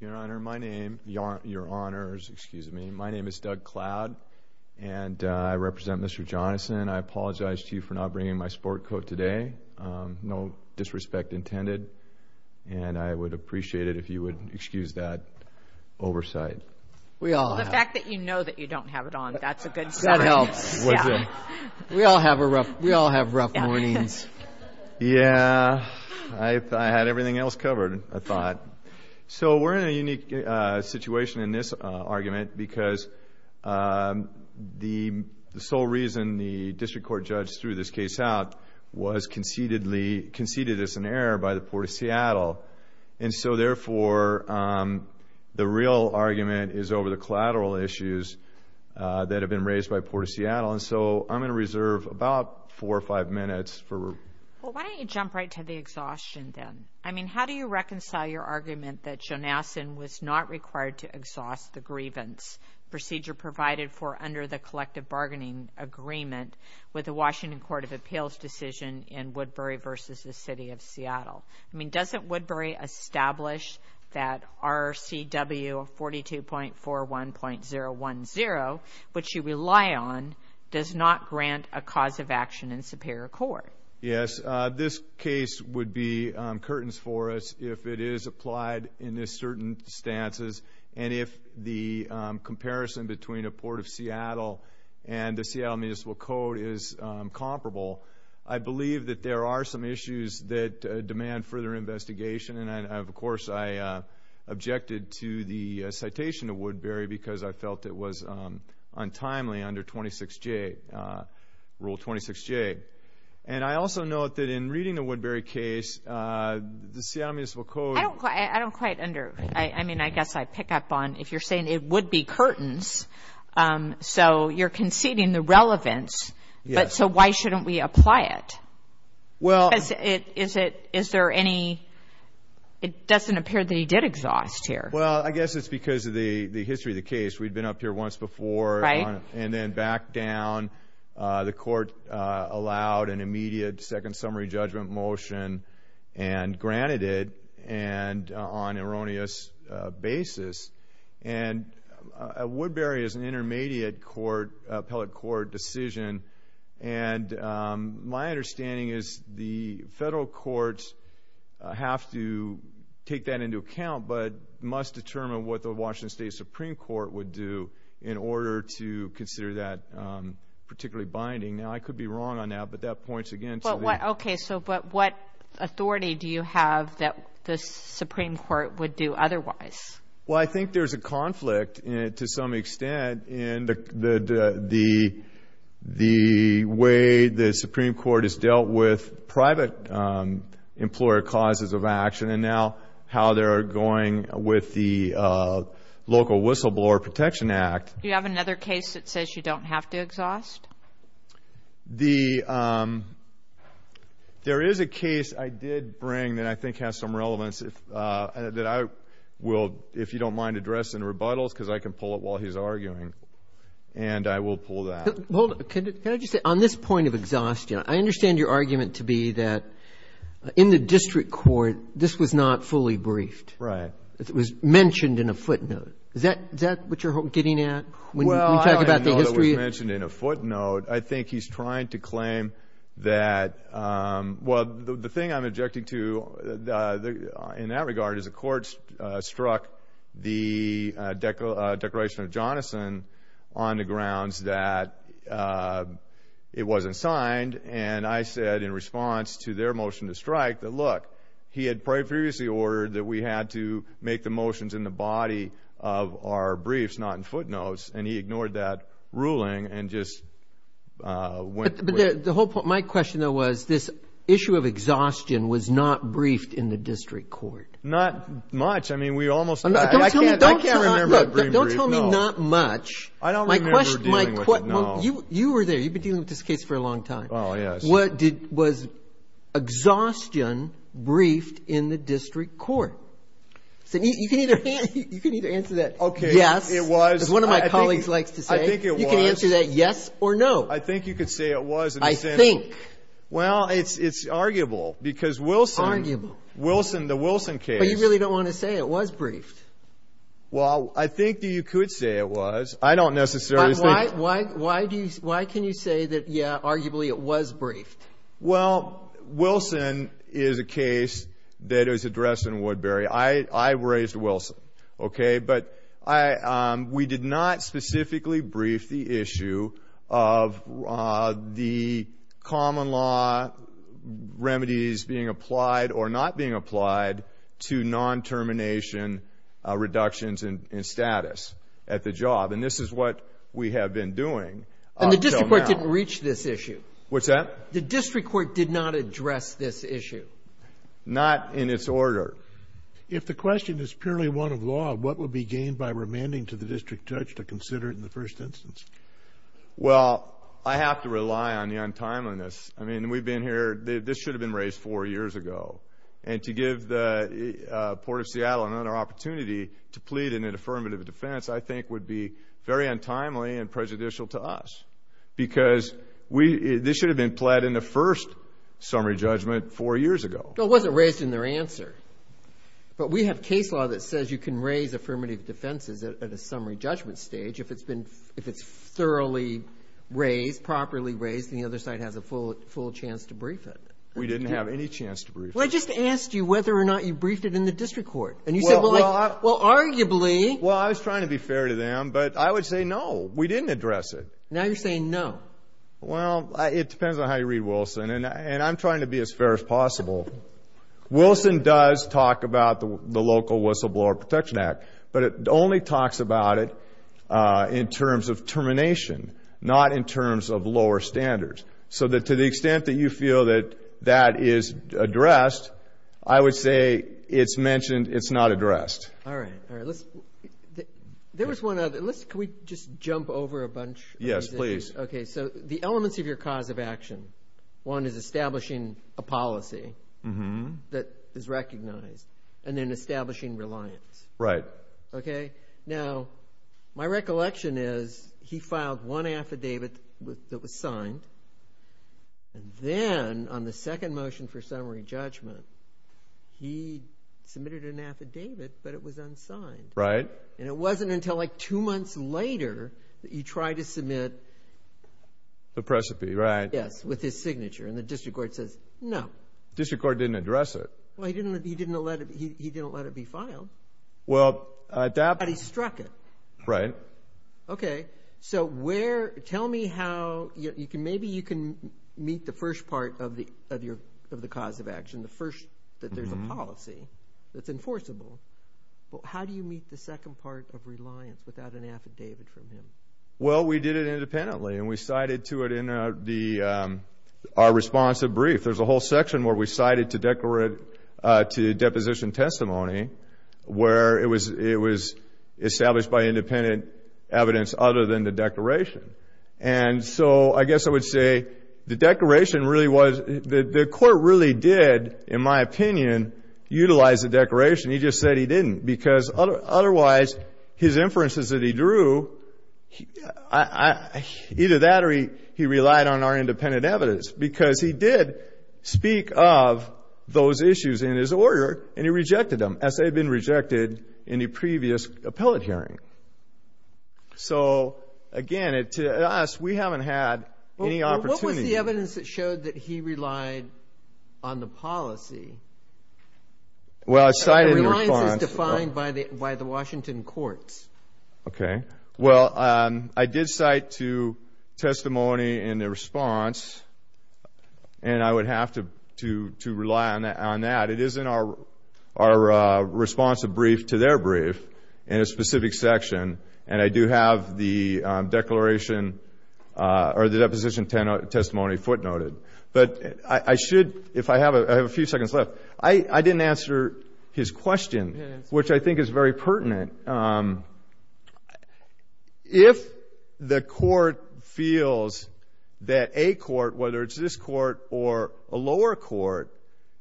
Your Honor, my name, your honors, excuse me, my name is Doug Cloud and I represent Mr. Jonassen. I apologize to you for not bringing my sport coat today. No disrespect intended. And I would appreciate it if you would excuse that oversight. Well, the fact that you know that you don't have it on, that's a good sign. That helps. We all have rough mornings. Yeah, I had everything else covered, I thought. So we're in a unique situation in this argument because the sole reason the district court judge threw this case out was conceded as an error by the Port of Seattle. And so therefore, the real argument is over the collateral issues that have been raised by Port of Seattle. And so I'm going to reserve about four or five minutes. Well, why don't you jump right to the exhaustion then? I mean, how do you reconcile your argument that Jonassen was not required to exhaust the grievance procedure provided for under the collective bargaining agreement with the Washington Court of Appeals decision I mean, doesn't Woodbury establish that RCW 42.41.010, which you rely on, does not grant a cause of action in superior court? Yes, this case would be curtains for us if it is applied in this certain stances. And if the comparison between a Port of Seattle and the Seattle Municipal Code is comparable, I believe that there are some issues that demand further investigation. And, of course, I objected to the citation of Woodbury because I felt it was untimely under Rule 26J. And I also note that in reading the Woodbury case, the Seattle Municipal Code – I don't quite under – I mean, I guess I pick up on if you're saying it would be curtains, so you're conceding the relevance, but so why shouldn't we apply it? Is there any – it doesn't appear that he did exhaust here. Well, I guess it's because of the history of the case. We'd been up here once before and then back down. The court allowed an immediate second summary judgment motion and granted it on an erroneous basis. And Woodbury is an intermediate court – appellate court decision. And my understanding is the federal courts have to take that into account but must determine what the Washington State Supreme Court would do in order to consider that particularly binding. Now, I could be wrong on that, but that points again to the – Okay, so but what authority do you have that the Supreme Court would do otherwise? Well, I think there's a conflict to some extent in the way the Supreme Court has dealt with private employer causes of action and now how they're going with the local whistleblower protection act. Do you have another case that says you don't have to exhaust? There is a case I did bring that I think has some relevance that I will, if you don't mind, address in rebuttals because I can pull it while he's arguing and I will pull that. Hold it. Can I just say on this point of exhaustion, I understand your argument to be that in the district court, this was not fully briefed. Right. It was mentioned in a footnote. Is that what you're getting at when you talk about the history? It was mentioned in a footnote. I think he's trying to claim that – well, the thing I'm objecting to in that regard is the court struck the declaration of Jonathan on the grounds that it wasn't signed and I said in response to their motion to strike that, look, he had previously ordered that we had to make the motions in the body of our briefs, not in footnotes, and he ignored that ruling and just went with it. But my question, though, was this issue of exhaustion was not briefed in the district court. Not much. I mean, we almost – Don't tell me not much. I don't remember dealing with it, no. You were there. You've been dealing with this case for a long time. Oh, yes. Was exhaustion briefed in the district court? You can either answer that yes. It was. As one of my colleagues likes to say. I think it was. You can answer that yes or no. I think you could say it was. I think. Well, it's arguable because Wilson – Arguable. Wilson, the Wilson case – But you really don't want to say it was briefed. Well, I think that you could say it was. I don't necessarily think – But why do you – why can you say that, yeah, arguably it was briefed? Well, Wilson is a case that is addressed in Woodbury. I raised Wilson, okay? But we did not specifically brief the issue of the common law remedies being applied or not being applied to non-termination reductions in status at the job. And this is what we have been doing until now. And the district court didn't reach this issue. What's that? The district court did not address this issue. Not in its order. If the question is purely one of law, what would be gained by remanding to the district judge to consider it in the first instance? Well, I have to rely on the untimeliness. I mean, we've been here – this should have been raised four years ago. And to give the Port of Seattle another opportunity to plead in an affirmative defense, I think would be very untimely and prejudicial to us because this should have been pled in the first summary judgment four years ago. Well, it wasn't raised in their answer. But we have case law that says you can raise affirmative defenses at a summary judgment stage if it's thoroughly raised, properly raised, and the other side has a full chance to brief it. We didn't have any chance to brief it. Well, I just asked you whether or not you briefed it in the district court. And you said, well, arguably. Well, I was trying to be fair to them, but I would say no, we didn't address it. Now you're saying no. Well, it depends on how you read Wilson. And I'm trying to be as fair as possible. Wilson does talk about the local whistleblower protection act, but it only talks about it in terms of termination, not in terms of lower standards. So to the extent that you feel that that is addressed, I would say it's mentioned, it's not addressed. All right. All right. There was one other. Can we just jump over a bunch? Yes, please. Okay. So the elements of your cause of action, one is establishing a policy that is recognized and then establishing reliance. Right. Okay. Now, my recollection is he filed one affidavit that was signed, and then on the second motion for summary judgment, he submitted an affidavit, but it was unsigned. Right. And it wasn't until, like, two months later that you tried to submit. The precipice, right. Yes, with his signature, and the district court says no. The district court didn't address it. Well, he didn't let it be filed. Well, that. But he struck it. Right. Okay. So where, tell me how, maybe you can meet the first part of the cause of action, the first that there's a policy that's enforceable. How do you meet the second part of reliance without an affidavit from him? Well, we did it independently, and we cited to it in our responsive brief. There's a whole section where we cited to deposition testimony, where it was established by independent evidence other than the declaration. And so I guess I would say the declaration really was, the court really did, in my opinion, utilize the declaration. He just said he didn't, because otherwise his inferences that he drew, either that or he relied on our independent evidence, because he did speak of those issues in his order, and he rejected them, as they had been rejected in the previous appellate hearing. So, again, to us, we haven't had any opportunity. What was the evidence that showed that he relied on the policy? Well, I cited in response. Reliance is defined by the Washington courts. Okay. Well, I did cite to testimony in the response, and I would have to rely on that. It is in our responsive brief to their brief in a specific section, and I do have the declaration or the deposition testimony footnoted. But I should, if I have a few seconds left, I didn't answer his question, which I think is very pertinent. If the court feels that a court, whether it's this court or a lower court,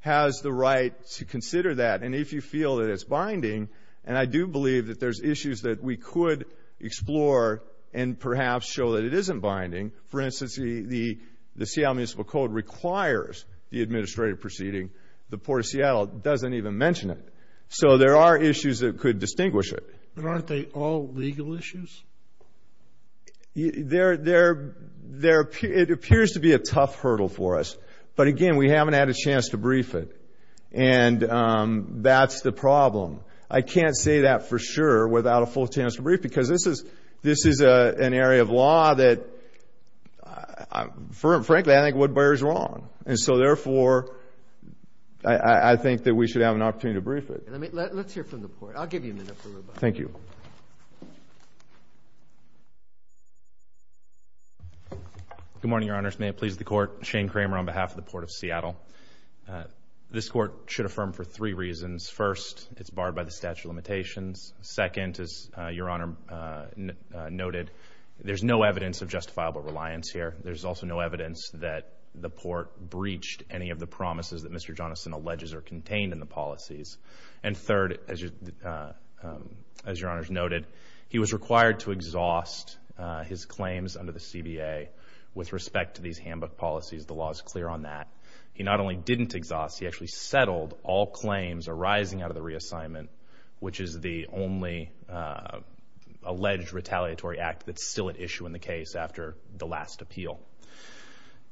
has the right to consider that, and if you feel that it's binding, and I do believe that there's issues that we could explore and perhaps show that it isn't binding. For instance, the Seattle Municipal Code requires the administrative proceeding. The Port of Seattle doesn't even mention it. So there are issues that could distinguish it. But aren't they all legal issues? It appears to be a tough hurdle for us. But, again, we haven't had a chance to brief it, and that's the problem. I can't say that for sure without a full chance to brief, because this is an area of law that, frankly, I think Woodbury is wrong. And so, therefore, I think that we should have an opportunity to brief it. Let's hear from the Court. I'll give you a minute for rebuttal. Thank you. Good morning, Your Honors. May it please the Court. Shane Kramer on behalf of the Port of Seattle. This Court should affirm for three reasons. First, it's barred by the statute of limitations. Second, as Your Honor noted, there's no evidence of justifiable reliance here. There's also no evidence that the Port breached any of the promises that Mr. Jonathan alleges are contained in the policies. And third, as Your Honors noted, he was required to exhaust his claims under the CBA with respect to these handbook policies. The law is clear on that. He not only didn't exhaust, he actually settled all claims arising out of the reassignment, which is the only alleged retaliatory act that's still at issue in the case after the last appeal.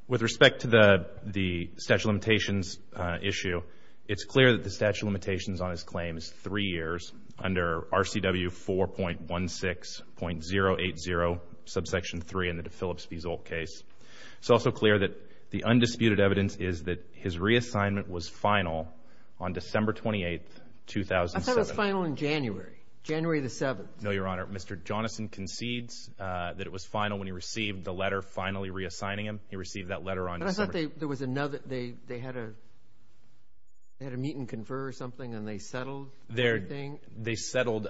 With respect to the statute of limitations issue, it's clear that the statute of limitations on his claim is three years under RCW 4.16.080, subsection 3 in the de Phillips v. Zolt case. It's also clear that the undisputed evidence is that his reassignment was final on December 28th, 2007. I thought it was final in January, January the 7th. No, Your Honor. Mr. Jonathan concedes that it was final when he received the letter finally reassigning him. He received that letter on December 7th. But I thought there was another, they had a meet and confer or something and they settled everything. They settled,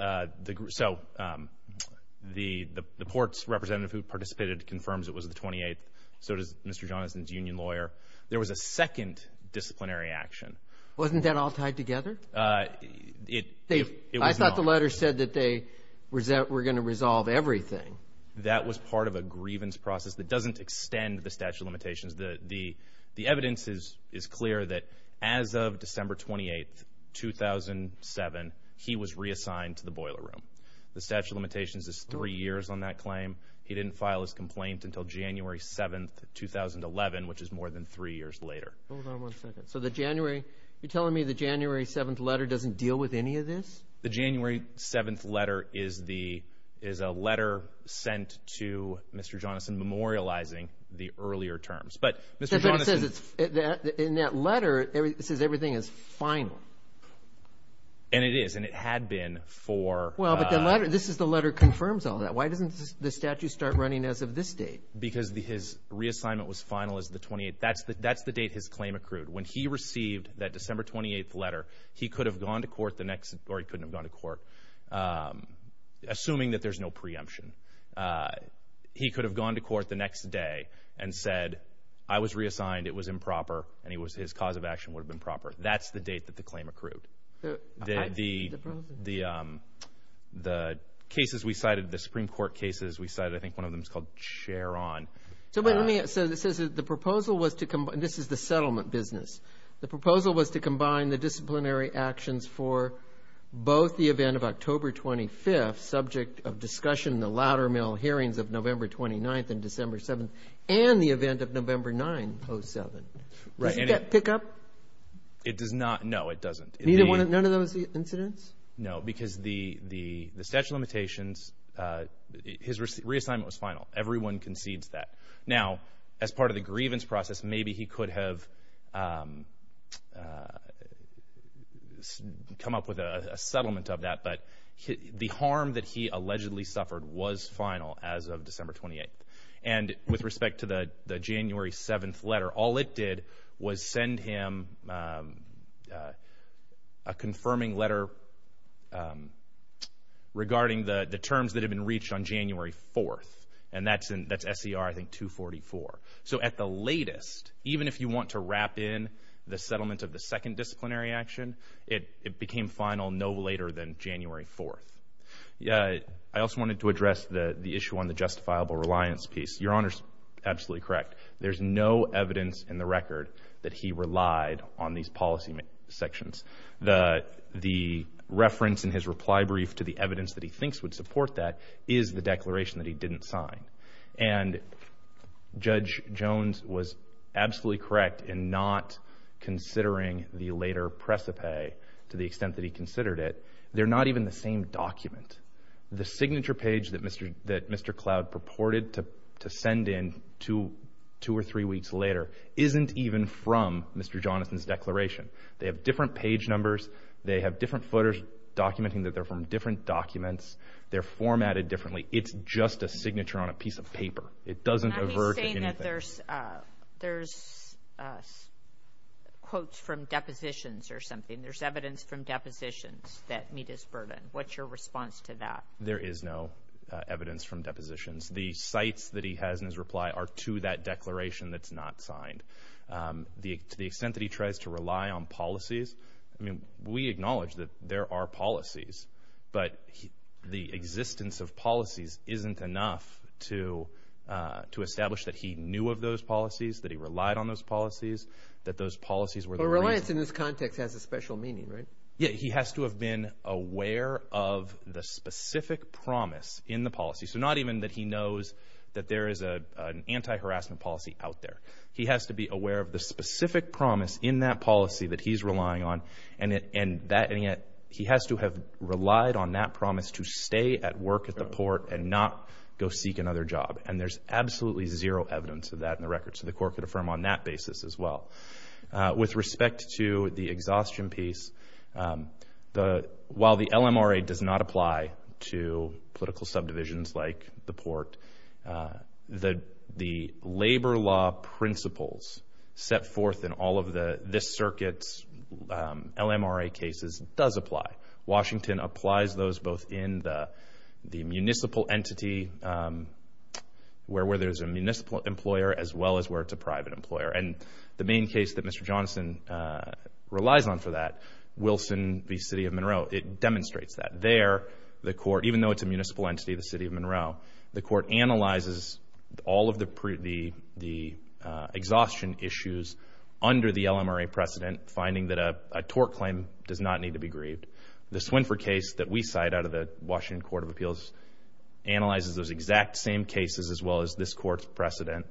so the courts representative who participated confirms it was the 28th. So does Mr. Jonathan's union lawyer. There was a second disciplinary action. Wasn't that all tied together? I thought the letter said that they were going to resolve everything. That was part of a grievance process that doesn't extend the statute of limitations. The evidence is clear that as of December 28th, 2007, he was reassigned to the boiler room. The statute of limitations is three years on that claim. He didn't file his complaint until January 7th, 2011, which is more than three years later. Hold on one second. So the January, you're telling me the January 7th letter doesn't deal with any of this? The January 7th letter is a letter sent to Mr. Jonathan memorializing the earlier terms. But Mr. Jonathan. But it says in that letter, it says everything is final. And it is, and it had been for. Well, but the letter, this is the letter confirms all that. Why doesn't the statute start running as of this date? Because his reassignment was final as the 28th. That's the date his claim accrued. When he received that December 28th letter, he could have gone to court the next, or he couldn't have gone to court, assuming that there's no preemption. He could have gone to court the next day and said, I was reassigned, it was improper, and his cause of action would have been proper. That's the date that the claim accrued. The cases we cited, the Supreme Court cases we cited, I think one of them is called Cheron. So the proposal was to combine, this is the settlement business. The proposal was to combine the disciplinary actions for both the event of October 25th, subject of discussion in the Loudermill hearings of November 29th and December 7th, and the event of November 9th, 07th. Does that pick up? It does not. No, it doesn't. None of those incidents? No, because the statute of limitations, his reassignment was final. Everyone concedes that. Now, as part of the grievance process, maybe he could have come up with a settlement of that, but the harm that he allegedly suffered was final as of December 28th. And with respect to the January 7th letter, all it did was send him a confirming letter regarding the terms that had been reached on January 4th, and that's SCR, I think, 244. So at the latest, even if you want to wrap in the settlement of the second disciplinary action, it became final no later than January 4th. I also wanted to address the issue on the justifiable reliance piece. Your Honor is absolutely correct. There's no evidence in the record that he relied on these policy sections. The reference in his reply brief to the evidence that he thinks would support that is the declaration that he didn't sign. And Judge Jones was absolutely correct in not considering the later precipice to the extent that he considered it. They're not even the same document. The signature page that Mr. Cloud purported to send in two or three weeks later isn't even from Mr. Jonathan's declaration. They have different page numbers. They have different footers documenting that they're from different documents. They're formatted differently. It's just a signature on a piece of paper. It doesn't avert anything. Now he's saying that there's quotes from depositions or something. There's evidence from depositions that meet his burden. What's your response to that? There is no evidence from depositions. The sites that he has in his reply are to that declaration that's not signed. To the extent that he tries to rely on policies, we acknowledge that there are policies, but the existence of policies isn't enough to establish that he knew of those policies, that he relied on those policies, that those policies were the reason. But reliance in this context has a special meaning, right? Yeah, he has to have been aware of the specific promise in the policy. So not even that he knows that there is an anti-harassment policy out there. He has to be aware of the specific promise in that policy that he's relying on, and he has to have relied on that promise to stay at work at the port and not go seek another job. And there's absolutely zero evidence of that in the record. So the court could affirm on that basis as well. With respect to the exhaustion piece, while the LMRA does not apply to political subdivisions like the port, the labor law principles set forth in all of this circuit's LMRA cases does apply. Washington applies those both in the municipal entity where there's a municipal employer as well as where it's a private employer. And the main case that Mr. Johnson relies on for that, Wilson v. City of Monroe, it demonstrates that. Even though it's a municipal entity, the City of Monroe, the court analyzes all of the exhaustion issues under the LMRA precedent, finding that a tort claim does not need to be grieved. The Swinford case that we cite out of the Washington Court of Appeals analyzes those exact same cases as well as this court's precedent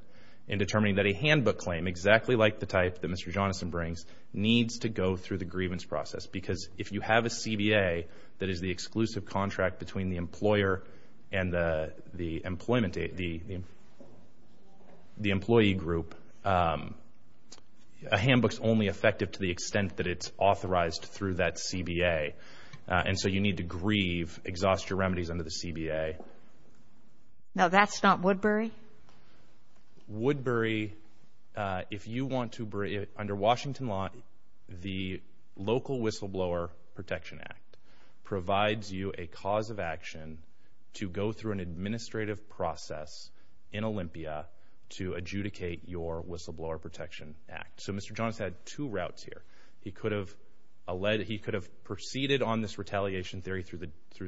in determining that a handbook claim, exactly like the type that Mr. Johnson brings, needs to go through the grievance process. Because if you have a CBA that is the exclusive contract between the employer and the employee group, a handbook's only effective to the extent that it's authorized through that CBA. And so you need to grieve, exhaust your remedies under the CBA. Now, that's not Woodbury? Woodbury, if you want to, under Washington law, the Local Whistleblower Protection Act provides you a cause of action to go through an administrative process in Olympia to adjudicate your Whistleblower Protection Act. So Mr. Johnson had two routes here. He could have proceeded on this retaliation theory through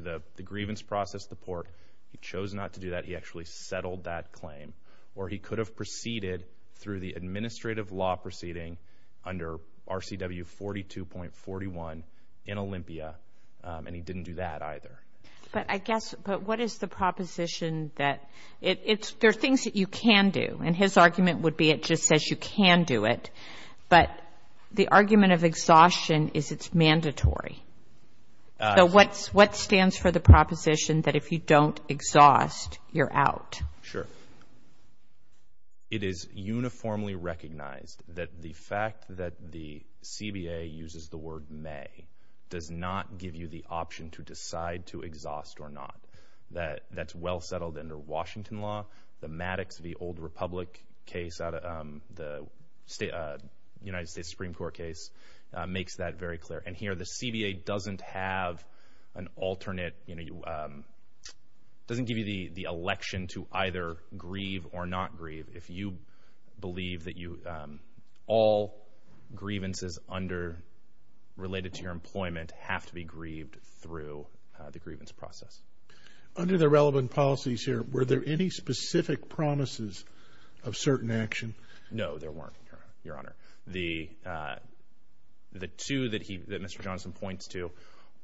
the grievance process at the port. He chose not to do that. He actually settled that claim. Or he could have proceeded through the administrative law proceeding under RCW 42.41 in Olympia, and he didn't do that either. But what is the proposition that there are things that you can do? And his argument would be it just says you can do it. But the argument of exhaustion is it's mandatory. So what stands for the proposition that if you don't exhaust, you're out? Sure. It is uniformly recognized that the fact that the CBA uses the word may does not give you the option to decide to exhaust or not. That's well settled under Washington law. The Maddox v. Old Republic case, the United States Supreme Court case, makes that very clear. And here the CBA doesn't have an alternate. It doesn't give you the election to either grieve or not grieve. If you believe that all grievances under related to your employment have to be grieved through the grievance process. Under the relevant policies here, were there any specific promises of certain action? No, there weren't, Your Honor. The two that Mr. Johnson points to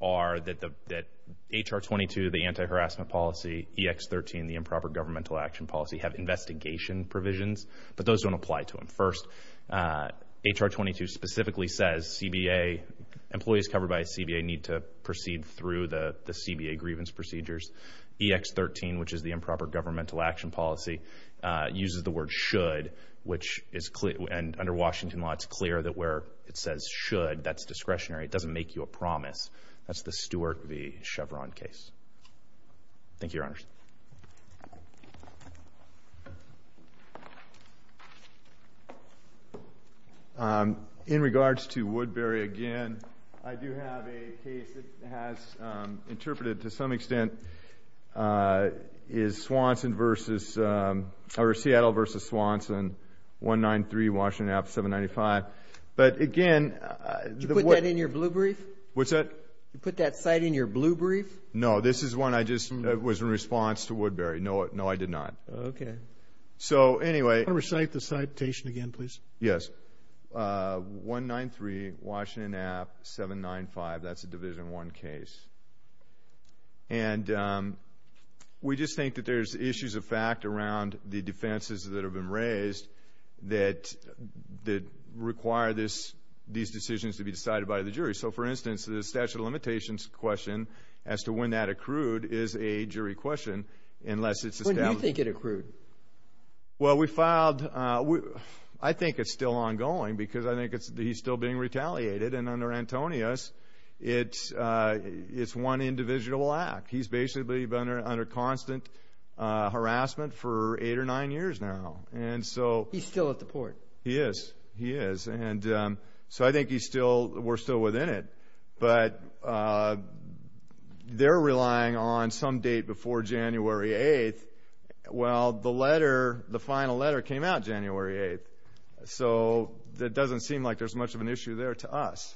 are that H.R. 22, the anti-harassment policy, E.X. 13, the improper governmental action policy, have investigation provisions. But those don't apply to him. First, H.R. 22 specifically says employees covered by a CBA need to proceed through the CBA grievance procedures. E.X. 13, which is the improper governmental action policy, uses the word should, which is clear, and under Washington law it's clear that where it says should, that's discretionary. It doesn't make you a promise. That's the Stewart v. Chevron case. Thank you, Your Honors. In regards to Woodbury, again, I do have a case that has interpreted to some extent is Seattle v. Swanson, 193 Washington Ave., 795. But again, Did you put that in your blue brief? What's that? You put that cite in your blue brief? No, this is one that was in response to Woodbury. No, I did not. Okay. So, anyway, Can I recite the citation again, please? Yes. 193 Washington Ave., 795. That's a Division I case. And we just think that there's issues of fact around the defenses that have been raised that require these decisions to be decided by the jury. So, for instance, the statute of limitations question as to when that accrued is a jury question unless it's established. When do you think it accrued? Well, we filed, I think it's still ongoing because I think he's still being retaliated. And under Antonius, it's one indivisible act. He's basically been under constant harassment for eight or nine years now. He's still at the port. He is. He is. And so I think we're still within it. But they're relying on some date before January 8th. Well, the letter, the final letter came out January 8th. So it doesn't seem like there's much of an issue there to us.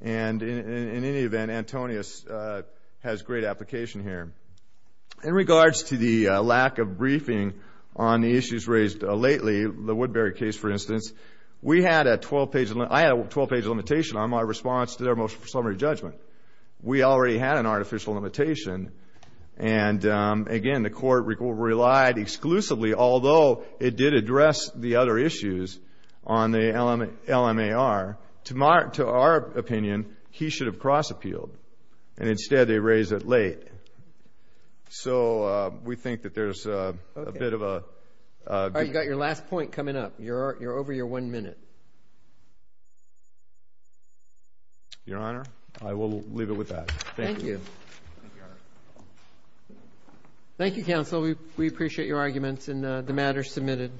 And in any event, Antonius has great application here. In regards to the lack of briefing on the issues raised lately, the Woodbury case, for instance, I had a 12-page limitation on my response to their motion for summary judgment. We already had an artificial limitation. And, again, the court relied exclusively, although it did address the other issues on the LMAR. To our opinion, he should have cross-appealed. And instead they raised it late. So we think that there's a bit of a difference. All right. You've got your last point coming up. You're over your one minute. Your Honor, I will leave it with that. Thank you. Thank you, Your Honor. Thank you, counsel. We appreciate your arguments and the matter submitted.